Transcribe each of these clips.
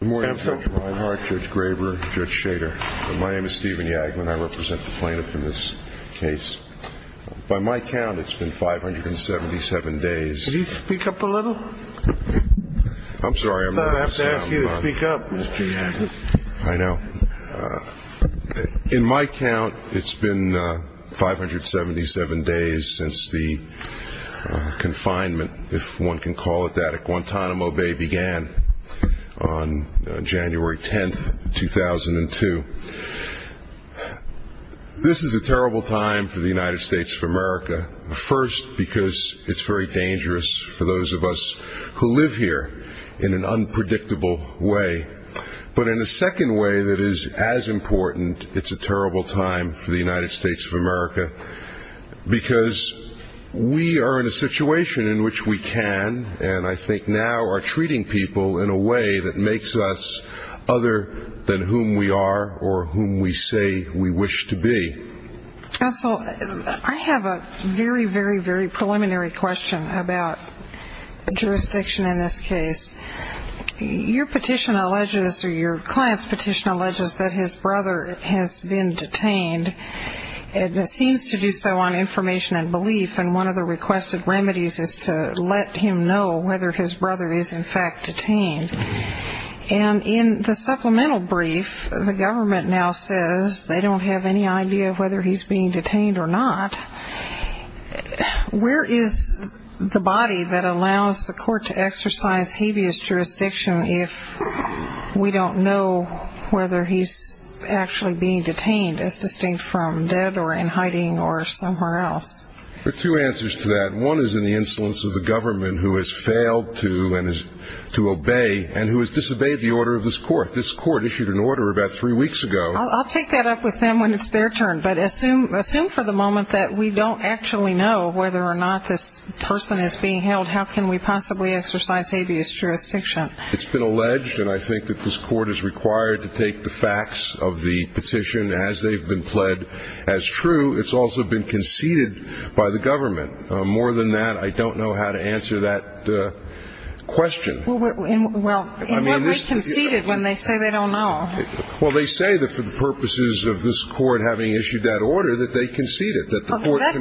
Good morning Judge Reinhart, Judge Graber, Judge Shader. My name is Stephen Yaglin. I represent the plaintiff in this case. By my count, it's been 577 days. Could you speak up a little? I'm sorry, I'm not allowed to say I'm loud. No, I have to ask you to speak up, Mr. Yaglin. I know. In my count, it's been 577 days since the confinement, if one can call it that, at Guantanamo Bay began. On January 10, 2002. This is a terrible time for the United States of America. First, because it's very dangerous for those of us who live here in an unpredictable way. But in a second way that is as important, it's a terrible time for the United States of America. Because we are in a situation in which we can, and I think now are treating people in a way that makes us other than whom we are or whom we say we wish to be. Also, I have a very, very, very preliminary question about jurisdiction in this case. Your petition alleges, or your client's petition alleges, that his brother has been detained. It seems to do so on information and belief, and one of the requested remedies is to let him know whether his brother is in fact detained. And in the supplemental brief, the government now says they don't have any idea whether he's being detained or not. Where is the body that allows the court to exercise habeas jurisdiction if we don't know whether he's actually being detained, as distinct from dead or in hiding or somewhere else? There are two answers to that. One is in the insolence of the government who has failed to obey and who has disobeyed the order of this court. This court issued an order about three weeks ago. I'll take that up with them when it's their turn. But assume for the moment that we don't actually know whether or not this person is being held. How can we possibly exercise habeas jurisdiction? It's been alleged, and I think that this court is required to take the facts of the petition as they've been pled as true. It's also been conceded by the government. More than that, I don't know how to answer that question. Well, in what way conceded when they say they don't know? Well, they say that for the purposes of this court having issued that order that they conceded.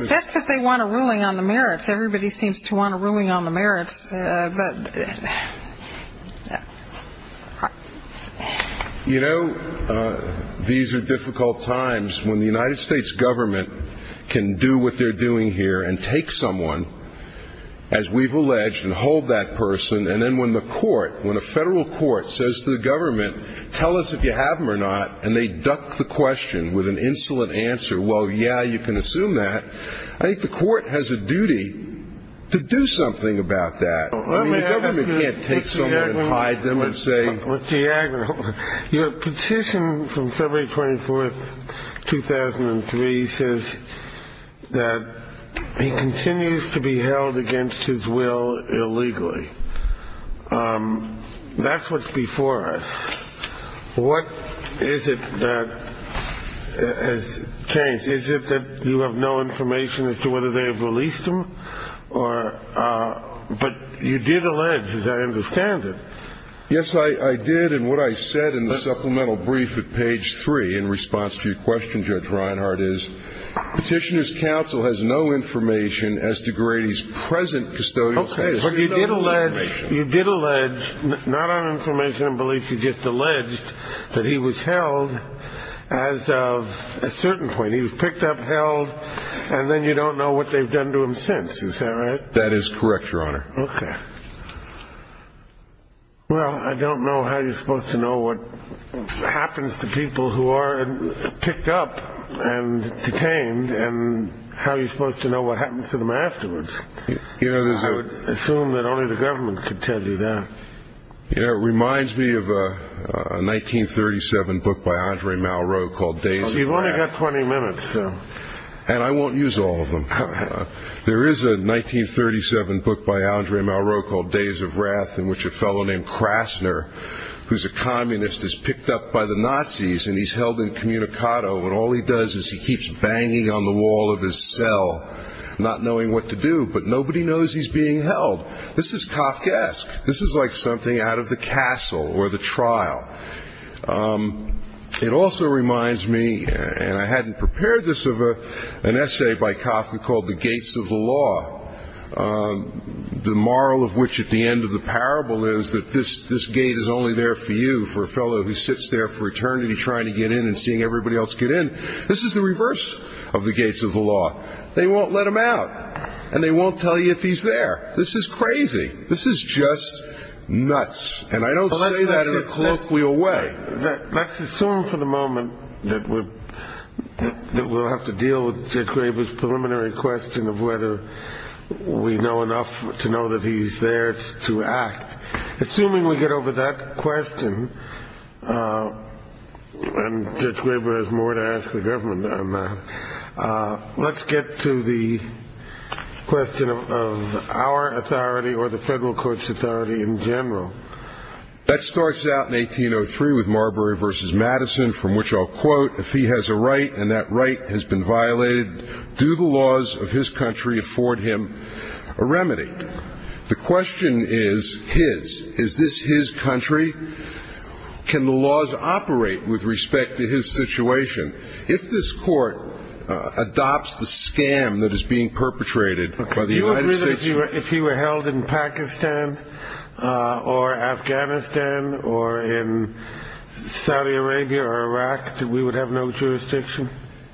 That's because they want a ruling on the merits. Everybody seems to want a ruling on the merits. You know, these are difficult times when the United States government can do what they're doing here and take someone, as we've alleged, and hold that person. And then when the court, when a federal court says to the government, tell us if you have him or not, and they duck the question with an insolent answer, well, yeah, you can assume that. I think the court has a duty to do something about that. I mean, the government can't take someone and hide them and say. Let me ask you, Mr. Yager, your petition from February 24th, 2003, says that he continues to be held against his will illegally. That's what's before us. What is it that has changed? Is it that you have no information as to whether they have released him? But you did allege, as I understand it. Yes, I did. And what I said in the supplemental brief at page three in response to your question, Judge Reinhart, is Petitioner's counsel has no information as to Grady's present custodial status. Okay, but you did allege, not on information and beliefs, but you just alleged that he was held as of a certain point. He was picked up, held, and then you don't know what they've done to him since. Is that right? That is correct, Your Honor. Okay. Well, I don't know how you're supposed to know what happens to people who are picked up and detained and how you're supposed to know what happens to them afterwards. I would assume that only the government could tell you that. You know, it reminds me of a 1937 book by Andre Malraux called Days of Wrath. You've only got 20 minutes. And I won't use all of them. There is a 1937 book by Andre Malraux called Days of Wrath, in which a fellow named Krasner, who's a communist, is picked up by the Nazis, and he's held incommunicado, and all he does is he keeps banging on the wall of his cell, not knowing what to do, but nobody knows he's being held. This is Kafkaesque. This is like something out of The Castle or The Trial. It also reminds me, and I hadn't prepared this, of an essay by Kafka called The Gates of the Law, the moral of which at the end of the parable is that this gate is only there for you, for a fellow who sits there for eternity trying to get in and seeing everybody else get in. This is the reverse of The Gates of the Law. They won't let him out, and they won't tell you if he's there. This is crazy. This is just nuts, and I don't say that in a colloquial way. Let's assume for the moment that we'll have to deal with Judge Graber's preliminary question of whether we know enough to know that he's there to act. Assuming we get over that question, and Judge Graber has more to ask the government on that, let's get to the question of our authority or the federal court's authority in general. That starts out in 1803 with Marbury v. Madison, from which I'll quote, if he has a right and that right has been violated, do the laws of his country afford him a remedy? The question is his. Is this his country? Can the laws operate with respect to his situation? If this court adopts the scam that is being perpetrated by the United States... Do you agree that if he were held in Pakistan or Afghanistan or in Saudi Arabia or Iraq, that we would have no jurisdiction?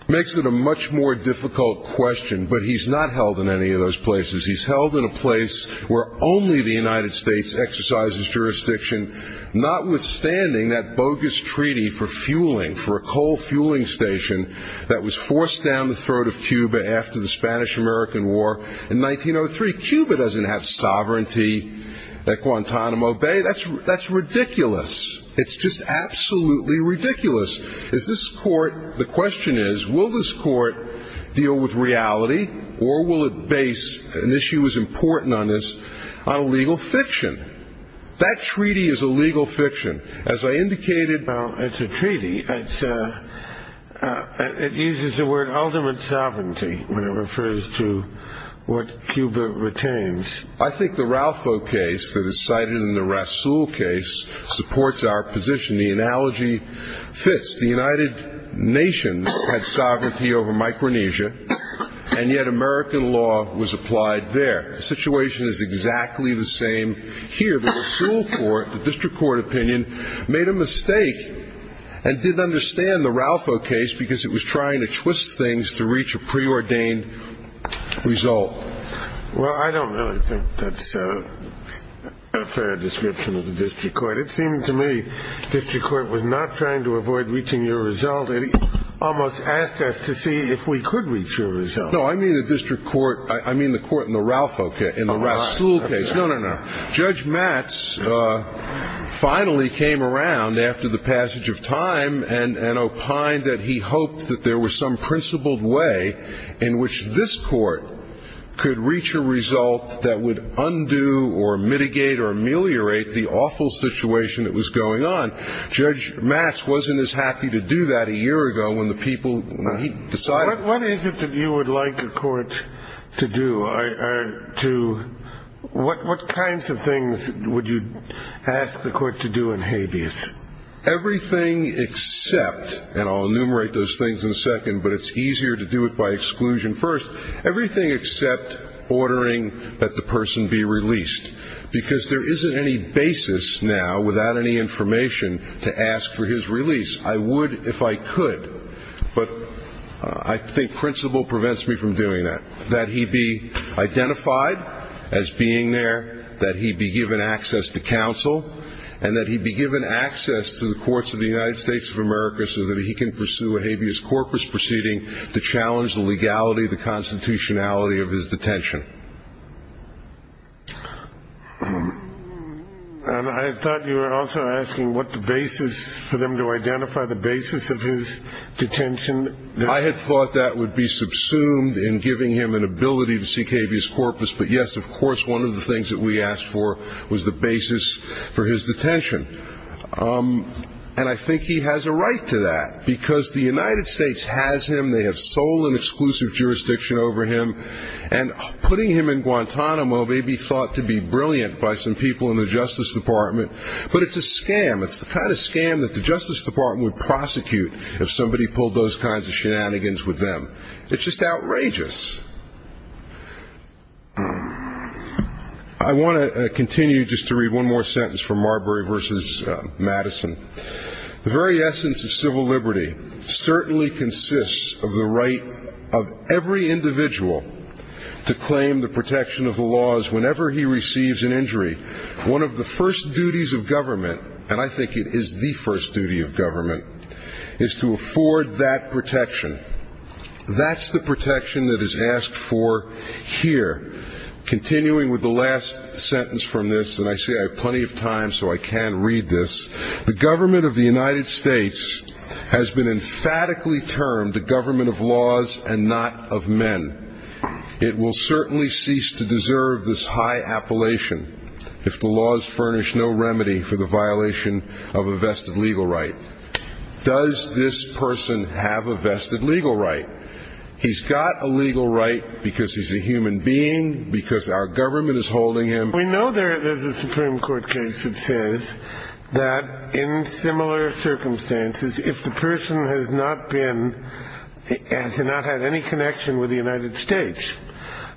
Makes it a much more difficult question, but he's not held in any of those places. He's held in a place where only the United States exercises jurisdiction, notwithstanding that bogus treaty for fueling, for a coal fueling station, that was forced down the throat of Cuba after the Spanish-American War in 1903. Cuba doesn't have sovereignty at Guantanamo Bay. That's ridiculous. It's just absolutely ridiculous. The question is, will this court deal with reality, or will it base an issue as important on this on a legal fiction? That treaty is a legal fiction. As I indicated... Well, it's a treaty. It uses the word ultimate sovereignty when it refers to what Cuba retains. I think the Ralpho case that is cited in the Rasul case supports our position. The analogy fits. The United Nations had sovereignty over Micronesia, and yet American law was applied there. The situation is exactly the same here. The Rasul court, the district court opinion, made a mistake and didn't understand the Ralpho case because it was trying to twist things to reach a preordained result. Well, I don't really think that's a fair description of the district court. It seemed to me the district court was not trying to avoid reaching a result. It almost asked us to see if we could reach a result. No, I mean the district court... I mean the court in the Ralpho... in the Rasul case. No, no, no. Judge Matz finally came around after the passage of time and opined that he hoped that there was some principled way in which this court could reach a result that would undo or mitigate or ameliorate the awful situation that was going on. Judge Matz wasn't as happy to do that a year ago when the people... What is it that you would like the court to do or to... What kinds of things would you ask the court to do in habeas? Everything except... and I'll enumerate those things in a second, but it's easier to do it by exclusion first. Everything except ordering that the person be released because there isn't any basis now without any information to ask for his release. I would if I could, but I think principle prevents me from doing that, that he be identified as being there, that he be given access to counsel, and that he be given access to the courts of the United States of America so that he can pursue a habeas corpus proceeding to challenge the legality, the constitutionality of his detention. And I thought you were also asking what the basis... for them to identify the basis of his detention. I had thought that would be subsumed in giving him an ability to seek habeas corpus, but yes, of course, one of the things that we asked for was the basis for his detention. And I think he has a right to that because the United States has him. And putting him in Guantanamo may be thought to be brilliant by some people in the Justice Department, but it's a scam. It's the kind of scam that the Justice Department would prosecute if somebody pulled those kinds of shenanigans with them. It's just outrageous. I want to continue just to read one more sentence from Marbury v. Madison. The very essence of civil liberty certainly consists of the right of every individual to claim the protection of the laws whenever he receives an injury. One of the first duties of government, and I think it is the first duty of government, is to afford that protection. That's the protection that is asked for here. Continuing with the last sentence from this, and I say I have plenty of time so I can read this, the government of the United States has been emphatically termed a government of laws and not of men. It will certainly cease to deserve this high appellation if the laws furnish no remedy for the violation of a vested legal right. Does this person have a vested legal right? He's got a legal right because he's a human being, because our government is holding him. We know there's a Supreme Court case that says that in similar circumstances, if the person has not had any connection with the United States,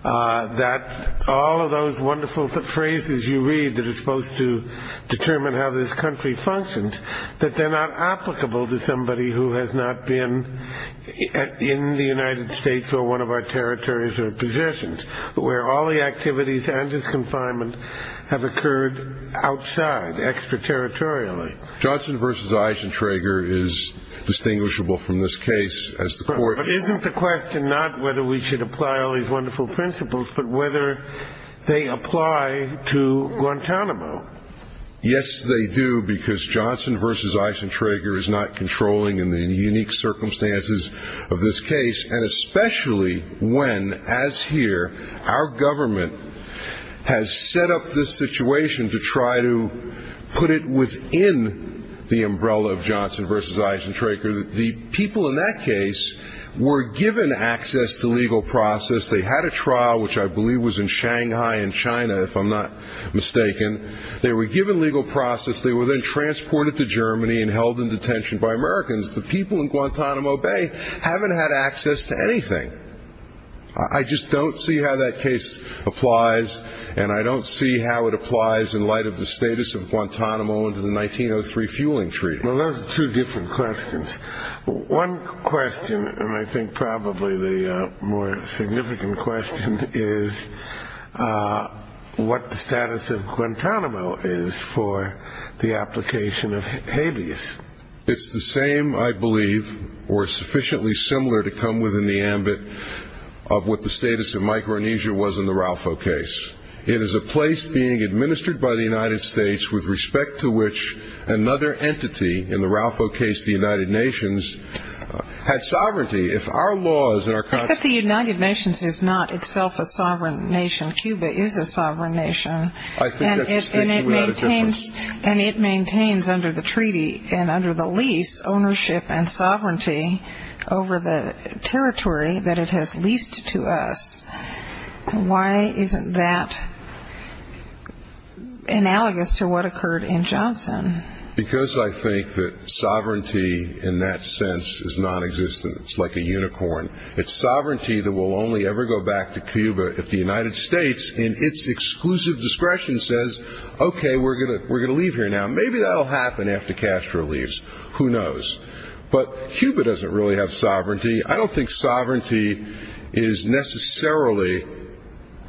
that all of those wonderful phrases you read that are supposed to determine how this country functions, that they're not applicable to somebody who has not been in the United States or one of our territories or positions, where all the activities and disconfinement have occurred outside, extraterritorially. Johnson v. Eichentrager is distinguishable from this case. But isn't the question not whether we should apply all these wonderful principles, but whether they apply to Guantanamo? Yes, they do, because Johnson v. Eichentrager is not controlling in the unique circumstances of this case, and especially when, as here, our government has set up this situation to try to put it within the umbrella of Johnson v. Eichentrager. The people in that case were given access to legal process. They had a trial, which I believe was in Shanghai in China, if I'm not mistaken. They were given legal process. They were then transported to Germany and held in detention by Americans. The people in Guantanamo Bay haven't had access to anything. I just don't see how that case applies, and I don't see how it applies in light of the status of Guantanamo under the 1903 fueling treaty. Well, those are two different questions. One question, and I think probably the more significant question, is what the status of Guantanamo is for the application of habeas. It's the same, I believe, or sufficiently similar to come within the ambit of what the status of Micronesia was in the Ralfo case. It is a place being administered by the United States with respect to which another entity, in the Ralfo case the United Nations, had sovereignty. If our laws and our constitution... Except the United Nations is not itself a sovereign nation. Cuba is a sovereign nation. I think that's the issue. And it maintains under the treaty and under the lease ownership and sovereignty over the territory that it has leased to us. Why isn't that analogous to what occurred in Johnson? Because I think that sovereignty in that sense is nonexistent. It's like a unicorn. If the United States, in its exclusive discretion, says, okay, we're going to leave here now, maybe that will happen after Castro leaves. Who knows? But Cuba doesn't really have sovereignty. I don't think sovereignty is necessarily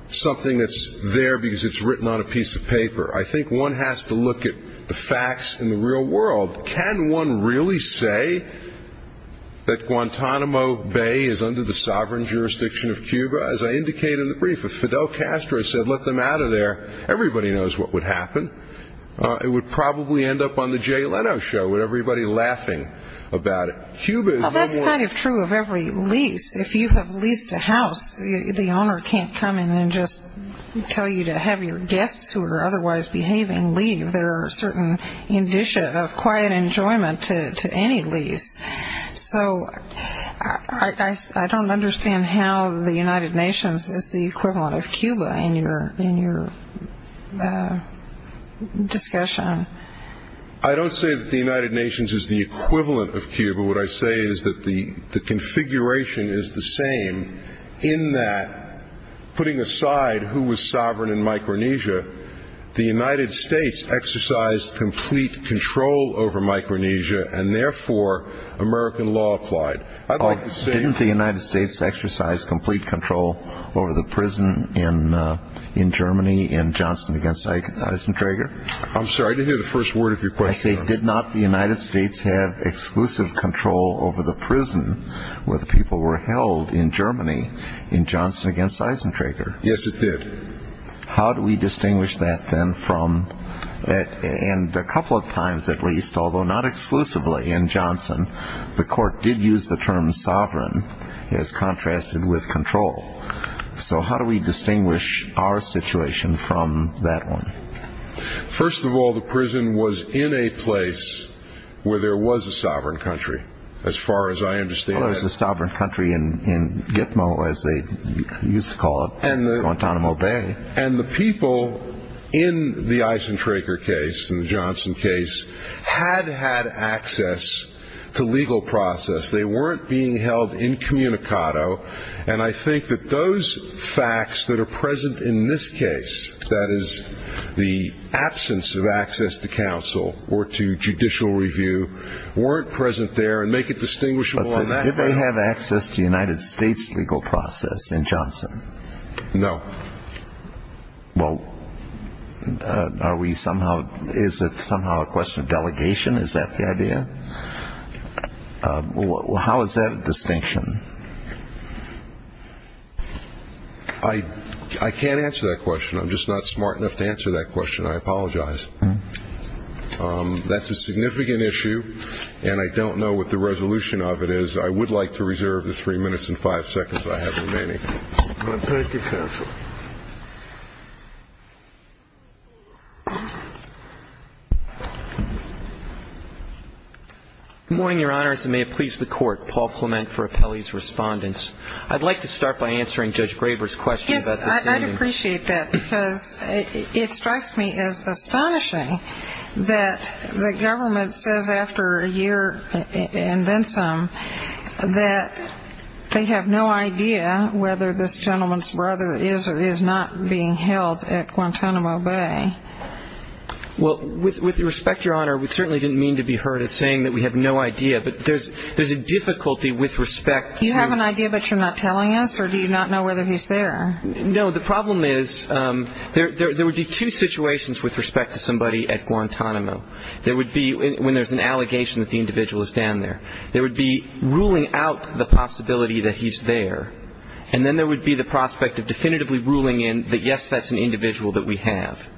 something that's there because it's written on a piece of paper. I think one has to look at the facts in the real world. Can one really say that Guantanamo Bay is under the sovereign jurisdiction of Cuba? As I indicate in the brief, if Fidel Castro had said let them out of there, everybody knows what would happen. It would probably end up on the Jay Leno show with everybody laughing about it. Cuba is no more... Well, that's kind of true of every lease. If you have leased a house, the owner can't come in and just tell you to have your guests, who are otherwise behaving, leave. There are certain indicia of quiet enjoyment to any lease. So I don't understand how the United Nations is the equivalent of Cuba in your discussion. I don't say that the United Nations is the equivalent of Cuba. What I say is that the configuration is the same in that, putting aside who was sovereign in Micronesia, the United States exercised complete control over Micronesia, and therefore American law applied. Didn't the United States exercise complete control over the prison in Germany in Johnson v. Eisentrager? I'm sorry, I didn't hear the first word of your question. I say did not the United States have exclusive control over the prison where the people were held in Germany in Johnson v. Eisentrager? Yes, it did. How do we distinguish that then from, and a couple of times at least, although not exclusively in Johnson, the court did use the term sovereign as contrasted with control. So how do we distinguish our situation from that one? First of all, the prison was in a place where there was a sovereign country, as far as I understand. Well, there was a sovereign country in Gitmo, as they used to call it, Guantanamo Bay. And the people in the Eisentrager case and the Johnson case had had access to legal process. They weren't being held incommunicado. And I think that those facts that are present in this case, that is the absence of access to counsel or to judicial review, weren't present there and make it distinguishable in that way. Did they have access to United States legal process in Johnson? No. Well, is it somehow a question of delegation? Is that the idea? How is that a distinction? I can't answer that question. I'm just not smart enough to answer that question. I apologize. That's a significant issue. And I don't know what the resolution of it is. I would like to reserve the three minutes and five seconds I have remaining. Thank you, counsel. Good morning, Your Honors. And may it please the Court, Paul Clement for appellees' respondents. I'd like to start by answering Judge Graber's question. Yes, I'd appreciate that. Because it strikes me as astonishing that the government says after a year and then some that they have no idea whether this gentleman's brother is or is not being held at Guantanamo Bay. Well, with respect, Your Honor, we certainly didn't mean to be heard as saying that we have no idea. But there's a difficulty with respect to the question. Do you have an idea but you're not telling us, or do you not know whether he's there? No. The problem is there would be two situations with respect to somebody at Guantanamo. There would be when there's an allegation that the individual is down there. There would be ruling out the possibility that he's there. And then there would be the prospect of definitively ruling in that, yes, that's an individual that we have.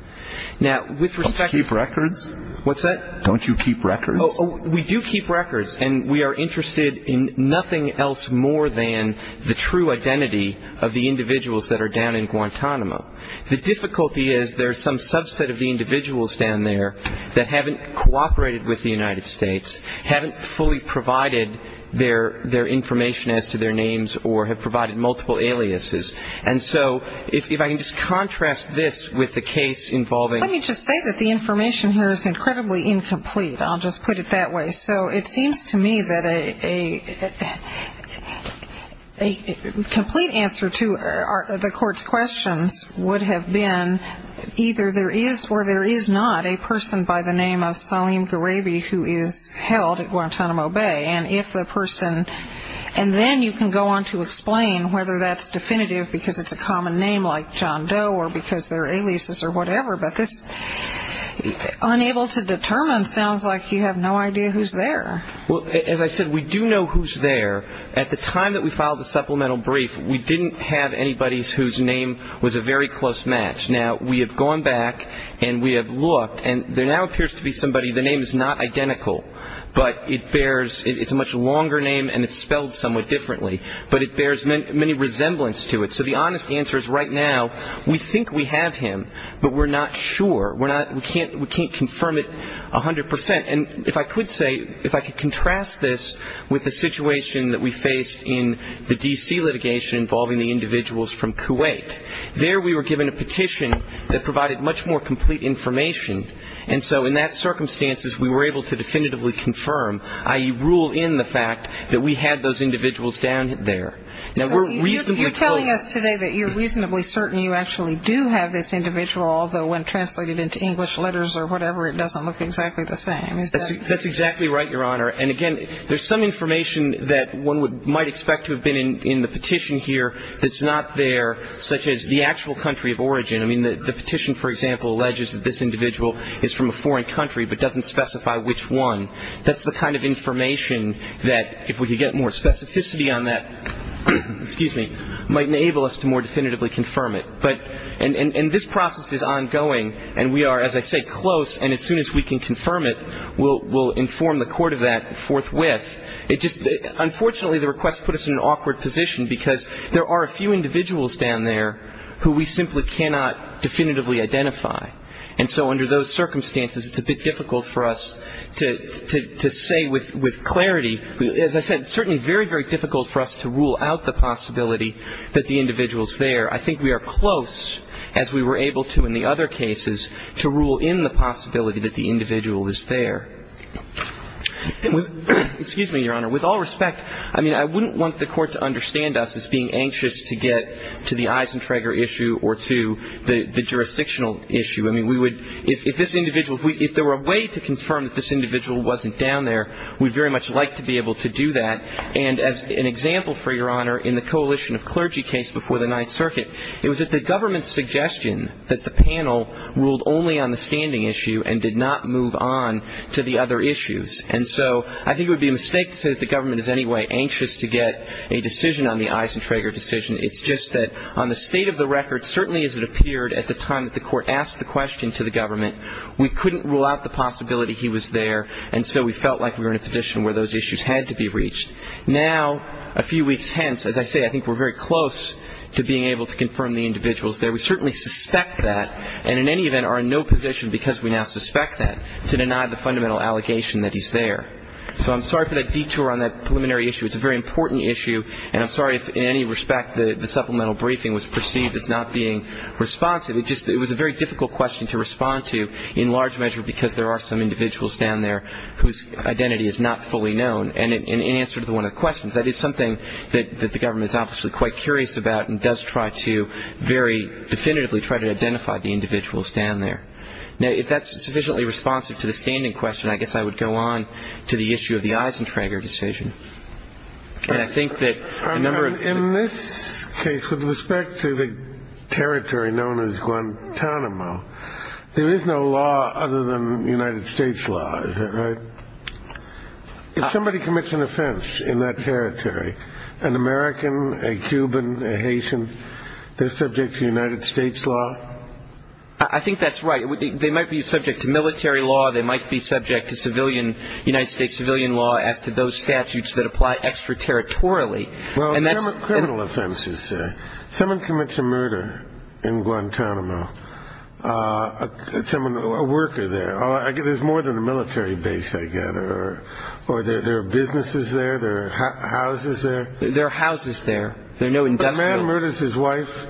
Now, with respect to the records. Don't you keep records? What's that? Don't you keep records? We do keep records. And we are interested in nothing else more than the true identity of the individuals that are down in Guantanamo. The difficulty is there's some subset of the individuals down there that haven't cooperated with the United States, haven't fully provided their information as to their names or have provided multiple aliases. And so if I can just contrast this with the case involving ---- Let me just say that the information here is incredibly incomplete. I'll just put it that way. So it seems to me that a complete answer to the court's questions would have been either there is or there is not a person by the name of Salim Garabi who is held at Guantanamo Bay. And if the person ---- and then you can go on to explain whether that's definitive because it's a common name like John Doe or because they're aliases or whatever. But this unable to determine sounds like you have no idea who's there. Well, as I said, we do know who's there. At the time that we filed the supplemental brief, we didn't have anybody whose name was a very close match. Now, we have gone back and we have looked, and there now appears to be somebody. The name is not identical, but it bears ---- it's a much longer name and it's spelled somewhat differently. But it bears many resemblance to it. So the honest answer is right now we think we have him, but we're not sure. We're not ---- we can't confirm it 100 percent. And if I could say, if I could contrast this with the situation that we faced in the D.C. litigation involving the individuals from Kuwait. There we were given a petition that provided much more complete information, and so in that circumstances we were able to definitively confirm, i.e., rule in the fact that we had those individuals down there. Now, we're reasonably close. So you're telling us today that you're reasonably certain you actually do have this individual, although when translated into English letters or whatever, it doesn't look exactly the same. Is that ---- That's exactly right, Your Honor. And, again, there's some information that one might expect to have been in the petition here that's not there, such as the actual country of origin. I mean, the petition, for example, alleges that this individual is from a foreign country but doesn't specify which one. That's the kind of information that, if we could get more specificity on that, excuse me, might enable us to more definitively confirm it. But ---- and this process is ongoing, and we are, as I say, close, and as soon as we can confirm it, we'll inform the court of that forthwith. It just ---- unfortunately, the request put us in an awkward position because there are a few individuals down there who we simply cannot definitively identify. And so under those circumstances, it's a bit difficult for us to say with clarity. As I said, it's certainly very, very difficult for us to rule out the possibility that the individual is there. I think we are close, as we were able to in the other cases, to rule in the possibility that the individual is there. Excuse me, Your Honor. With all respect, I mean, I wouldn't want the court to understand us as being anxious to get to the Eisentrager issue or to the jurisdictional issue. I mean, we would ---- if this individual ---- if there were a way to confirm that this individual wasn't down there, we'd very much like to be able to do that. And as an example, for Your Honor, in the coalition of clergy case before the Ninth Circuit, it was at the government's suggestion that the panel ruled only on the standing issue and did not move on to the other issues. And so I think it would be a mistake to say that the government is in any way anxious to get a decision on the Eisentrager decision. It's just that on the state of the record, certainly as it appeared at the time that the court asked the question to the government, we couldn't rule out the possibility he was there, and so we felt like we were in a position where those issues had to be reached. Now, a few weeks hence, as I say, I think we're very close to being able to confirm the individual is there. We certainly suspect that and in any event are in no position, because we now suspect that, to deny the fundamental allegation that he's there. So I'm sorry for that detour on that preliminary issue. It's a very important issue. And I'm sorry if in any respect the supplemental briefing was perceived as not being responsive. It was a very difficult question to respond to in large measure because there are some individuals down there whose identity is not fully known. And in answer to one of the questions, that is something that the government is obviously quite curious about and does try to very definitively try to identify the individuals down there. Now, if that's sufficiently responsive to the standing question, I guess I would go on to the issue of the Eisentrager decision. And I think that a number of... In this case, with respect to the territory known as Guantanamo, there is no law other than United States law, is that right? If somebody commits an offense in that territory, an American, a Cuban, a Haitian, they're subject to United States law? I think that's right. They might be subject to military law. They might be subject to United States civilian law as to those statutes that apply extraterritorially. Well, there are criminal offenses there. Someone commits a murder in Guantanamo, a worker there. There's more than a military base, I gather. Or there are businesses there. There are houses there. There are houses there. There are no industrial... A man murders his wife,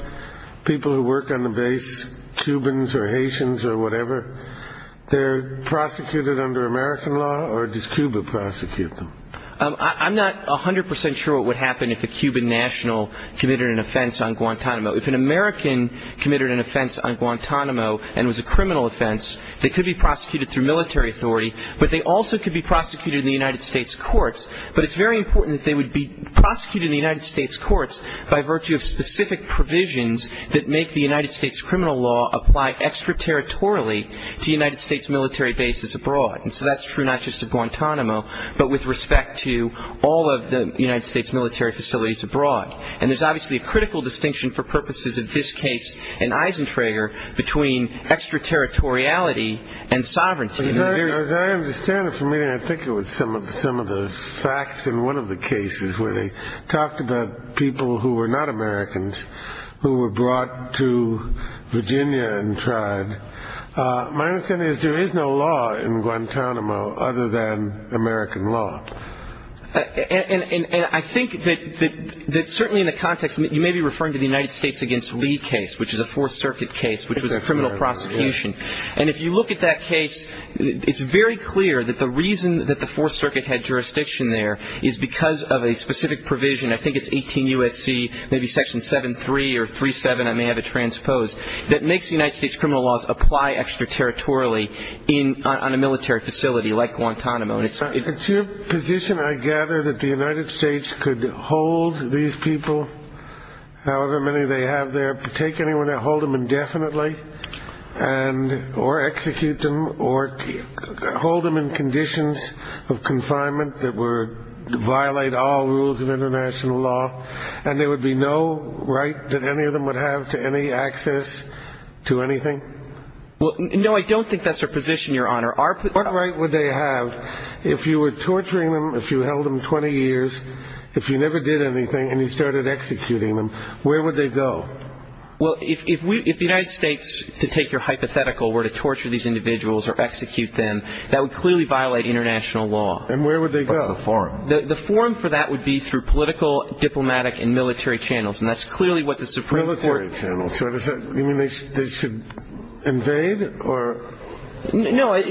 people who work on the base, Cubans or Haitians or whatever. They're prosecuted under American law, or does Cuba prosecute them? I'm not 100% sure what would happen if a Cuban national committed an offense on Guantanamo. If an American committed an offense on Guantanamo and was a criminal offense, they could be prosecuted through military authority, but they also could be prosecuted in the United States courts. But it's very important that they would be prosecuted in the United States courts by virtue of specific provisions that make the United States criminal law apply extraterritorially to United States military bases abroad. And so that's true not just of Guantanamo, but with respect to all of the United States military facilities abroad. And there's obviously a critical distinction for purposes of this case and Eisentrager between extraterritoriality and sovereignty. As I understand it from reading, I think it was some of the facts in one of the cases where they talked about people who were not Americans who were brought to Virginia and tried. My understanding is there is no law in Guantanamo other than American law. And I think that certainly in the context, you may be referring to the United States against Lee case, which is a Fourth Circuit case, which was a criminal prosecution. And if you look at that case, it's very clear that the reason that the Fourth Circuit had jurisdiction there is because of a specific provision, I think it's 18 U.S.C., maybe Section 7-3 or 3-7, I may have it transposed, that makes the United States criminal laws apply extraterritorially on a military facility like Guantanamo. It's your position, I gather, that the United States could hold these people, however many they have there, they could take anyone and hold them indefinitely or execute them or hold them in conditions of confinement that would violate all rules of international law, and there would be no right that any of them would have to any access to anything? No, I don't think that's their position, Your Honor. What right would they have if you were torturing them, if you held them 20 years, if you never did anything and you started executing them, where would they go? Well, if the United States, to take your hypothetical, were to torture these individuals or execute them, that would clearly violate international law. And where would they go? What's the forum? The forum for that would be through political, diplomatic, and military channels, and that's clearly what the Supreme Court Military channels, so does that mean they should invade or? No. I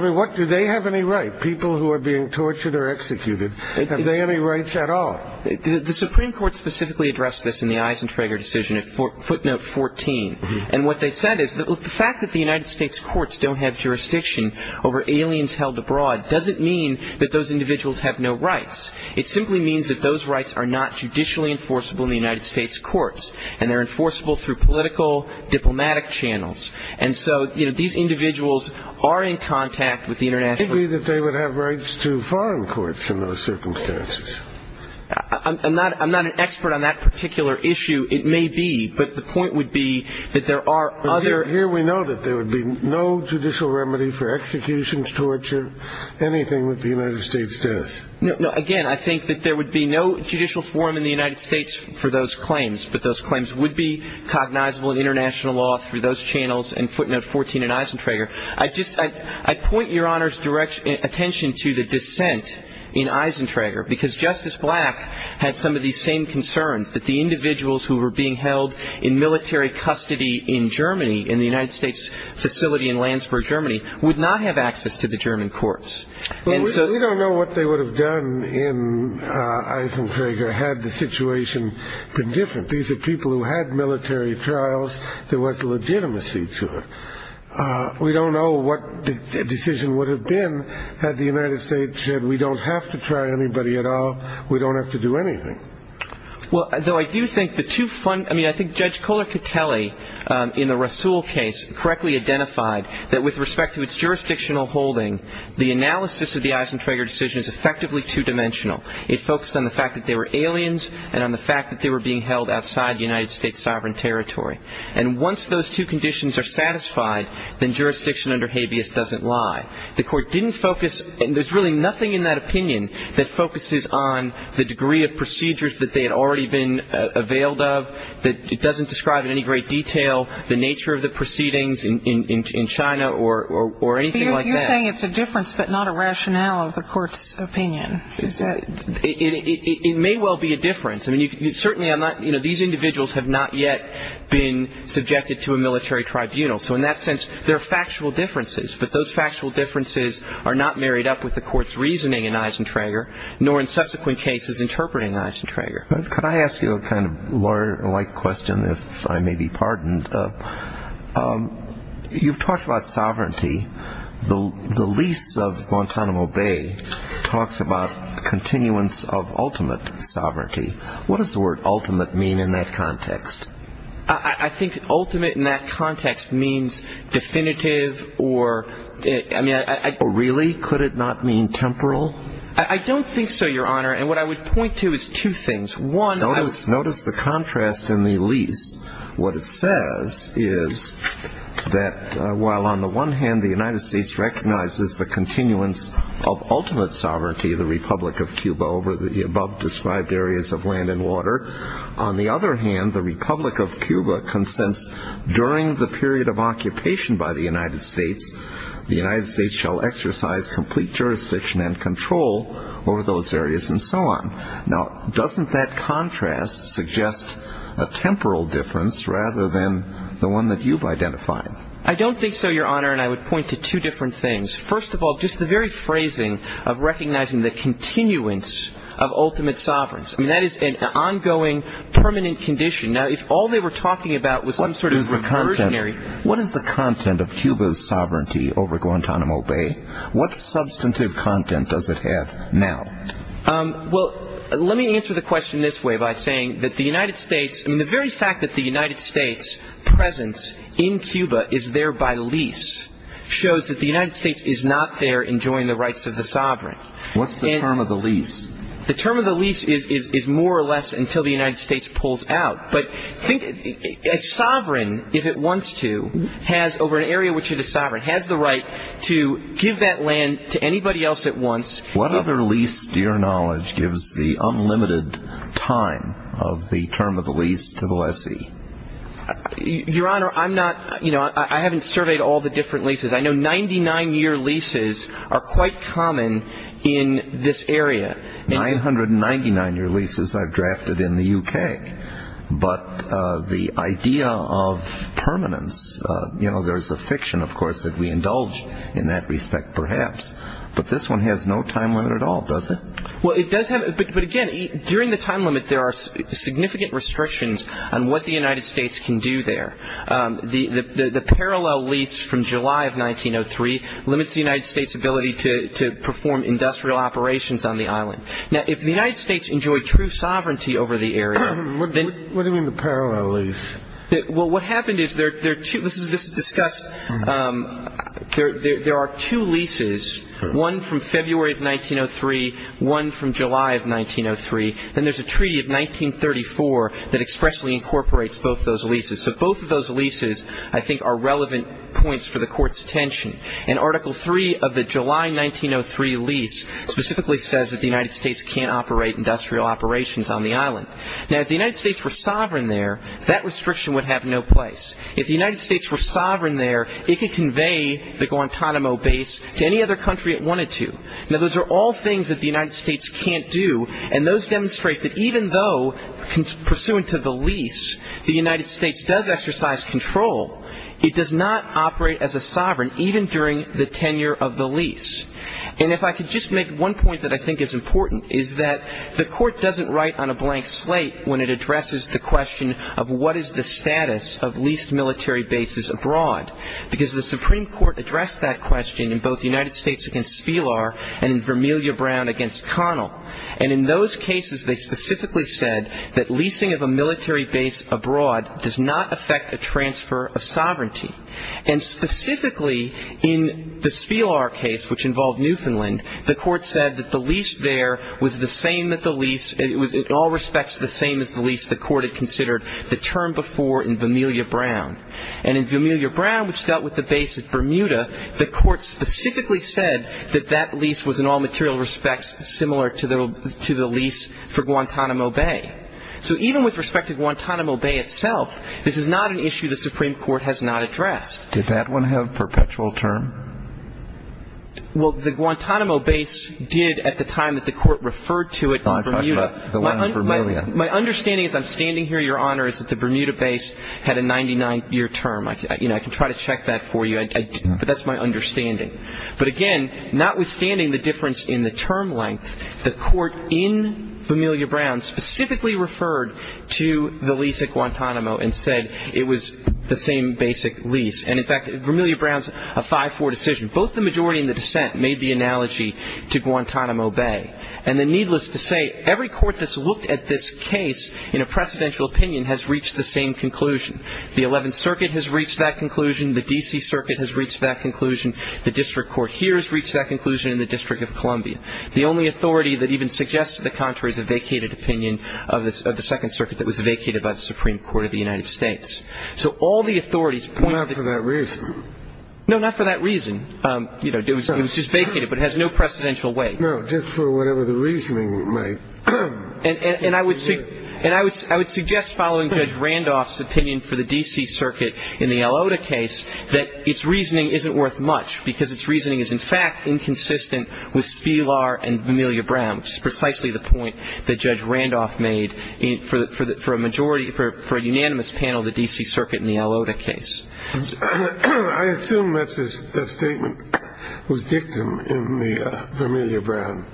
mean, do they have any right, people who are being tortured or executed, have they any rights at all? The Supreme Court specifically addressed this in the Eisentrager decision at footnote 14, and what they said is the fact that the United States courts don't have jurisdiction over aliens held abroad doesn't mean that those individuals have no rights. It simply means that those rights are not judicially enforceable in the United States courts, and they're enforceable through political, diplomatic channels, and so these individuals are in contact with the international. It may be that they would have rights to foreign courts in those circumstances. I'm not an expert on that particular issue. It may be, but the point would be that there are other. Here we know that there would be no judicial remedy for executions, torture, anything with the United States death. No, again, I think that there would be no judicial forum in the United States for those claims, but those claims would be cognizable in international law through those channels and footnote 14 in Eisentrager. I point Your Honor's attention to the dissent in Eisentrager because Justice Black had some of these same concerns that the individuals who were being held in military custody in Germany, in the United States facility in Landsberg, Germany, would not have access to the German courts. We don't know what they would have done in Eisentrager had the situation been different. These are people who had military trials. There was legitimacy to it. We don't know what the decision would have been had the United States said we don't have to try anybody at all. We don't have to do anything. Well, though, I do think the two fund. I mean, I think Judge Kohler could tell a in the Russell case correctly identified that with respect to its jurisdictional holding. The analysis of the Eisentrager decision is effectively two dimensional. It focused on the fact that they were aliens and on the fact that they were being held outside United States sovereign territory. And once those two conditions are satisfied, then jurisdiction under habeas doesn't lie. The court didn't focus. There's really nothing in that opinion that focuses on the degree of procedures that they had already been availed of, that it doesn't describe in any great detail the nature of the proceedings in China or anything like that. You're saying it's a difference but not a rationale of the court's opinion. Is that? It may well be a difference. I mean, certainly I'm not you know, these individuals have not yet been subjected to a military tribunal. So in that sense, there are factual differences. But those factual differences are not married up with the court's reasoning in Eisentrager, nor in subsequent cases interpreting Eisentrager. Could I ask you a kind of lawyer like question, if I may be pardoned? You've talked about sovereignty. The lease of Guantanamo Bay talks about continuance of ultimate sovereignty. What does the word ultimate mean in that context? I think ultimate in that context means definitive or, I mean, I think. Really? Could it not mean temporal? I don't think so, Your Honor. And what I would point to is two things. One. Notice the contrast in the lease. What it says is that while on the one hand the United States recognizes the continuance of ultimate sovereignty, the Republic of Cuba, over the above described areas of land and water, on the other hand the Republic of Cuba consents during the period of occupation by the United States, the United States shall exercise complete jurisdiction and control over those areas and so on. Now, doesn't that contrast suggest a temporal difference rather than the one that you've identified? I don't think so, Your Honor. And I would point to two different things. First of all, just the very phrasing of recognizing the continuance of ultimate sovereignty. I mean, that is an ongoing permanent condition. Now, if all they were talking about was some sort of reversionary. What is the content of Cuba's sovereignty over Guantanamo Bay? What substantive content does it have now? Well, let me answer the question this way by saying that the United States, I mean the very fact that the United States' presence in Cuba is there by lease shows that the United States is not there enjoying the rights of the sovereign. What's the term of the lease? The term of the lease is more or less until the United States pulls out. But think a sovereign, if it wants to, has over an area which it is sovereign, has the right to give that land to anybody else it wants. What other lease, to your knowledge, gives the unlimited time of the term of the lease to the lessee? Your Honor, I'm not, you know, I haven't surveyed all the different leases. I know 99-year leases are quite common in this area. 999-year leases I've drafted in the U.K. But the idea of permanence, you know, there's a fiction, of course, that we indulge in that respect perhaps. But this one has no time limit at all, does it? Well, it does have. But, again, during the time limit there are significant restrictions on what the United States can do there. The parallel lease from July of 1903 limits the United States' ability to perform industrial operations on the island. Now, if the United States enjoyed true sovereignty over the area, then... What do you mean the parallel lease? Well, what happened is there are two... One from February of 1903, one from July of 1903. Then there's a treaty of 1934 that expressly incorporates both those leases. So both of those leases, I think, are relevant points for the Court's attention. And Article III of the July 1903 lease specifically says that the United States can't operate industrial operations on the island. Now, if the United States were sovereign there, that restriction would have no place. If the United States were sovereign there, it could convey the Guantanamo base to any other country it wanted to. Now, those are all things that the United States can't do. And those demonstrate that even though, pursuant to the lease, the United States does exercise control, it does not operate as a sovereign even during the tenure of the lease. And if I could just make one point that I think is important, is that the Court doesn't write on a blank slate when it addresses the question of what is the status of leased military bases abroad, because the Supreme Court addressed that question in both United States against Spilar and in Vermilla Brown against Connell. And in those cases, they specifically said that leasing of a military base abroad does not affect a transfer of sovereignty. And specifically in the Spilar case, which involved Newfoundland, the Court said that the lease there was the same that the lease – the term before in Vermilla Brown. And in Vermilla Brown, which dealt with the base at Bermuda, the Court specifically said that that lease was in all material respects similar to the lease for Guantanamo Bay. So even with respect to Guantanamo Bay itself, this is not an issue the Supreme Court has not addressed. Did that one have perpetual term? Well, the Guantanamo base did at the time that the Court referred to it in Bermuda. My understanding as I'm standing here, Your Honor, is that the Bermuda base had a 99-year term. I can try to check that for you, but that's my understanding. But again, notwithstanding the difference in the term length, the Court in Vermilla Brown specifically referred to the lease at Guantanamo and said it was the same basic lease. And in fact, Vermilla Brown's a 5-4 decision. Both the majority and the dissent made the analogy to Guantanamo Bay. And then needless to say, every court that's looked at this case in a precedential opinion has reached the same conclusion. The Eleventh Circuit has reached that conclusion. The D.C. Circuit has reached that conclusion. The district court here has reached that conclusion in the District of Columbia. The only authority that even suggests to the contrary is a vacated opinion of the Second Circuit that was vacated by the Supreme Court of the United States. So all the authorities point to the ---- Not for that reason. No, not for that reason. You know, it was just vacated, but it has no precedential weight. No, just for whatever the reasoning might be. And I would suggest, following Judge Randolph's opinion for the D.C. Circuit in the Elota case, that its reasoning isn't worth much because its reasoning is, in fact, inconsistent with Spilar and Vermilla Brown, which is precisely the point that Judge Randolph made for a unanimous panel of the D.C. Circuit in the Elota case. I assume that statement was dictum in the Vermilla Brown.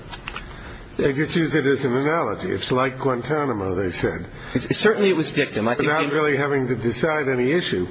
They just used it as an analogy. It's like Guantanamo, they said. Certainly it was dictum. Without really having to decide any issue,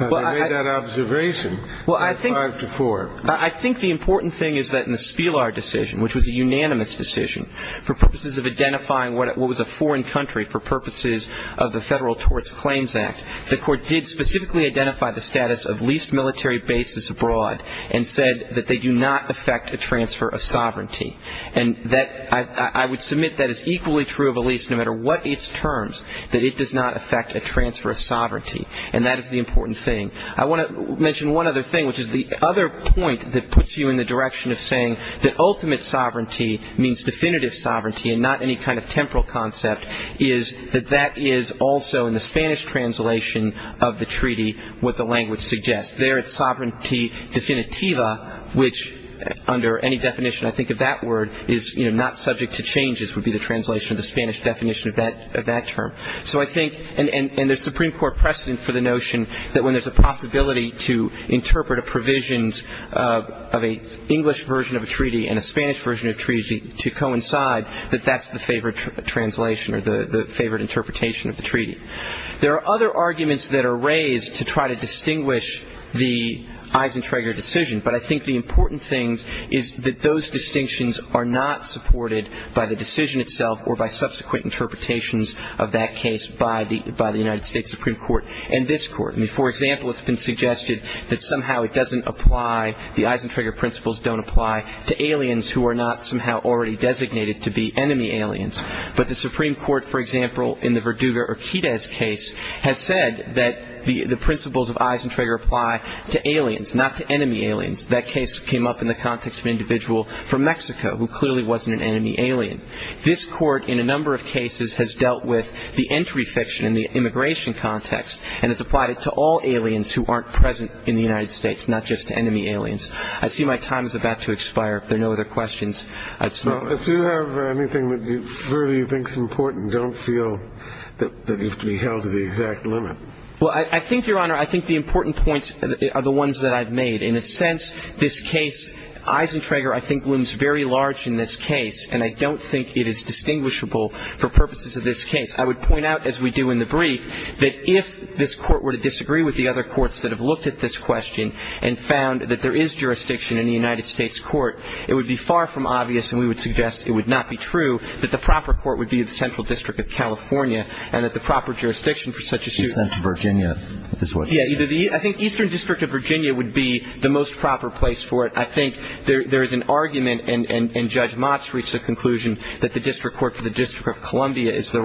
they made that observation in 5-4. I think the important thing is that in the Spilar decision, which was a unanimous decision for purposes of identifying what was a foreign country for purposes of the Federal Torts Claims Act, the Court did specifically identify the status of leased military bases abroad and said that they do not affect a transfer of sovereignty. And I would submit that is equally true of a lease, no matter what its terms, that it does not affect a transfer of sovereignty. And that is the important thing. I want to mention one other thing, which is the other point that puts you in the direction of saying that ultimate sovereignty means definitive sovereignty and not any kind of temporal concept, is that that is also in the Spanish translation of the treaty what the language suggests. There it's sovereignty definitiva, which under any definition I think of that word is, you know, not subject to changes would be the translation of the Spanish definition of that term. So I think, and there's Supreme Court precedent for the notion that when there's a possibility to interpret a provisions of an English version of a treaty and a Spanish version of a treaty to coincide, that that's the favored translation or the favored interpretation of the treaty. There are other arguments that are raised to try to distinguish the Eisentrager decision, but I think the important thing is that those distinctions are not supported by the decision itself or by subsequent interpretations of that case by the United States Supreme Court and this court. I mean, for example, it's been suggested that somehow it doesn't apply, the Eisentrager principles don't apply to aliens who are not somehow already designated to be enemy aliens. But the Supreme Court, for example, in the Verduga-Urquidez case, has said that the principles of Eisentrager apply to aliens, not to enemy aliens. That case came up in the context of an individual from Mexico who clearly wasn't an enemy alien. This court in a number of cases has dealt with the entry fiction in the immigration context and has applied it to all aliens who aren't present in the United States, not just to enemy aliens. I see my time is about to expire. If there are no other questions, I'd stop. If you have anything that you really think is important, don't feel that you have to be held to the exact limit. Well, I think, Your Honor, I think the important points are the ones that I've made. In a sense, this case, Eisentrager, I think, looms very large in this case, and I don't think it is distinguishable for purposes of this case. I would point out, as we do in the brief, that if this court were to disagree with the other courts that have looked at this question and found that there is jurisdiction in the United States court, it would be far from obvious, and we would suggest it would not be true, that the proper court would be the Central District of California and that the proper jurisdiction for such a suit. The Central Virginia is what you're saying. Yeah, I think Eastern District of Virginia would be the most proper place for it. I think there is an argument, and Judge Motz reached the conclusion, that the district court for the District of Columbia is the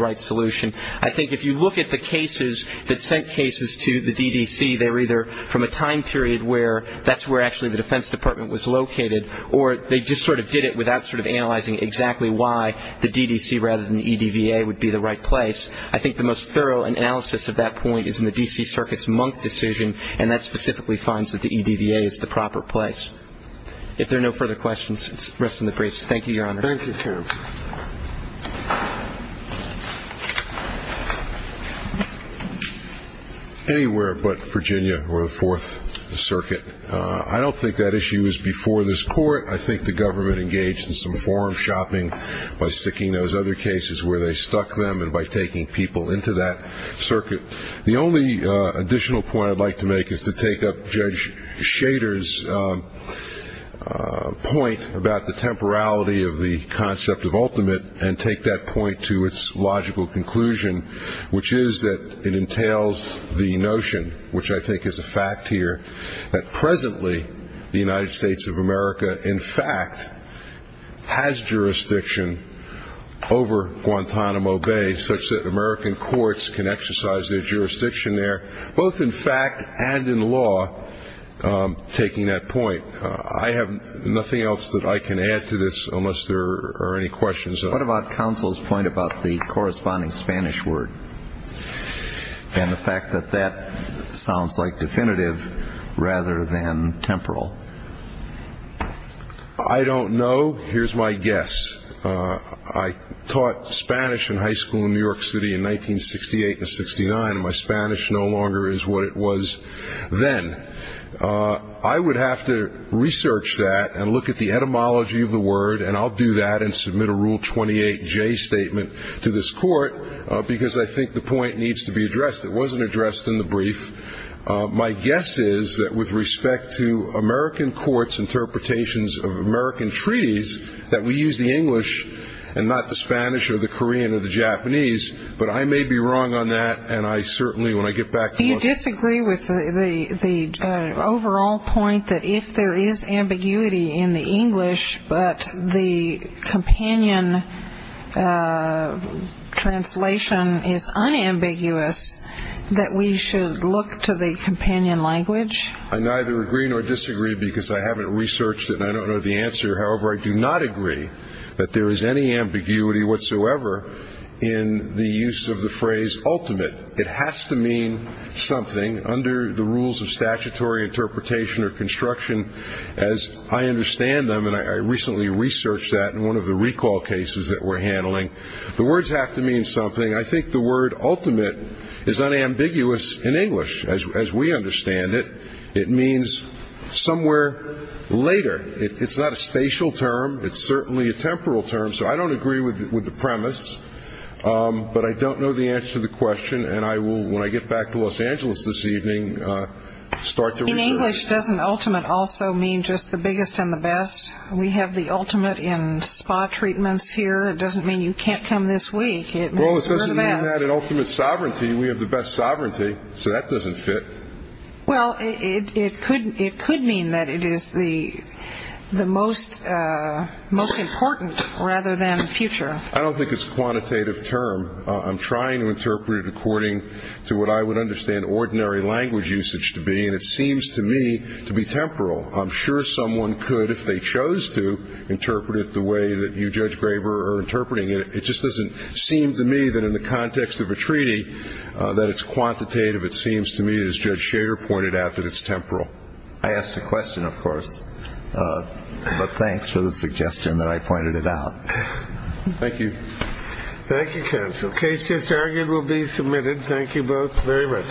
right solution. I think if you look at the cases that sent cases to the DDC, they were either from a time period where that's where actually the Defense Department was located, or they just sort of did it without sort of analyzing exactly why the DDC rather than the EDVA would be the right place. I think the most thorough analysis of that point is in the D.C. Circuit's Monk decision, and that specifically finds that the EDVA is the proper place. If there are no further questions, let's rest on the briefs. Thank you, Your Honor. Thank you, Chairman. Anywhere but Virginia or the Fourth Circuit. I don't think that issue was before this court. I think the government engaged in some forum shopping by sticking those other cases where they stuck them and by taking people into that circuit. The only additional point I'd like to make is to take up Judge Shader's point about the temporality of the concept of ultimate and take that point to its logical conclusion, which is that it entails the notion, which I think is a fact here, that presently the United States of America in fact has jurisdiction over Guantanamo Bay, such that American courts can exercise their jurisdiction there, both in fact and in law, taking that point. I have nothing else that I can add to this unless there are any questions. What about counsel's point about the corresponding Spanish word and the fact that that sounds like definitive rather than temporal? I don't know. Here's my guess. I taught Spanish in high school in New York City in 1968 and 69, and my Spanish no longer is what it was then. I would have to research that and look at the etymology of the word, and I'll do that and submit a Rule 28J statement to this court because I think the point needs to be addressed. My guess is that with respect to American courts' interpretations of American treaties, that we use the English and not the Spanish or the Korean or the Japanese. But I may be wrong on that, and I certainly, when I get back to the question. Do you disagree with the overall point that if there is ambiguity in the English but the companion translation is unambiguous, that we should look to the companion language? I neither agree nor disagree because I haven't researched it and I don't know the answer. However, I do not agree that there is any ambiguity whatsoever in the use of the phrase ultimate. It has to mean something under the rules of statutory interpretation or construction as I understand them, and I recently researched that in one of the recall cases that we're handling. The words have to mean something. I think the word ultimate is unambiguous in English as we understand it. It means somewhere later. It's not a spatial term. It's certainly a temporal term, so I don't agree with the premise, but I don't know the answer to the question, and I will, when I get back to Los Angeles this evening, start to research. English doesn't ultimate also mean just the biggest and the best. We have the ultimate in spa treatments here. It doesn't mean you can't come this week. It means we're the best. Well, it doesn't mean that in ultimate sovereignty we have the best sovereignty, so that doesn't fit. Well, it could mean that it is the most important rather than future. I don't think it's a quantitative term. I'm trying to interpret it according to what I would understand ordinary language usage to be, and it seems to me to be temporal. I'm sure someone could, if they chose to, interpret it the way that you, Judge Graber, are interpreting it. It just doesn't seem to me that in the context of a treaty that it's quantitative. It seems to me, as Judge Schader pointed out, that it's temporal. I asked a question, of course, but thanks for the suggestion that I pointed it out. Thank you. Thank you, counsel. Case just argued will be submitted. Thank you both very much.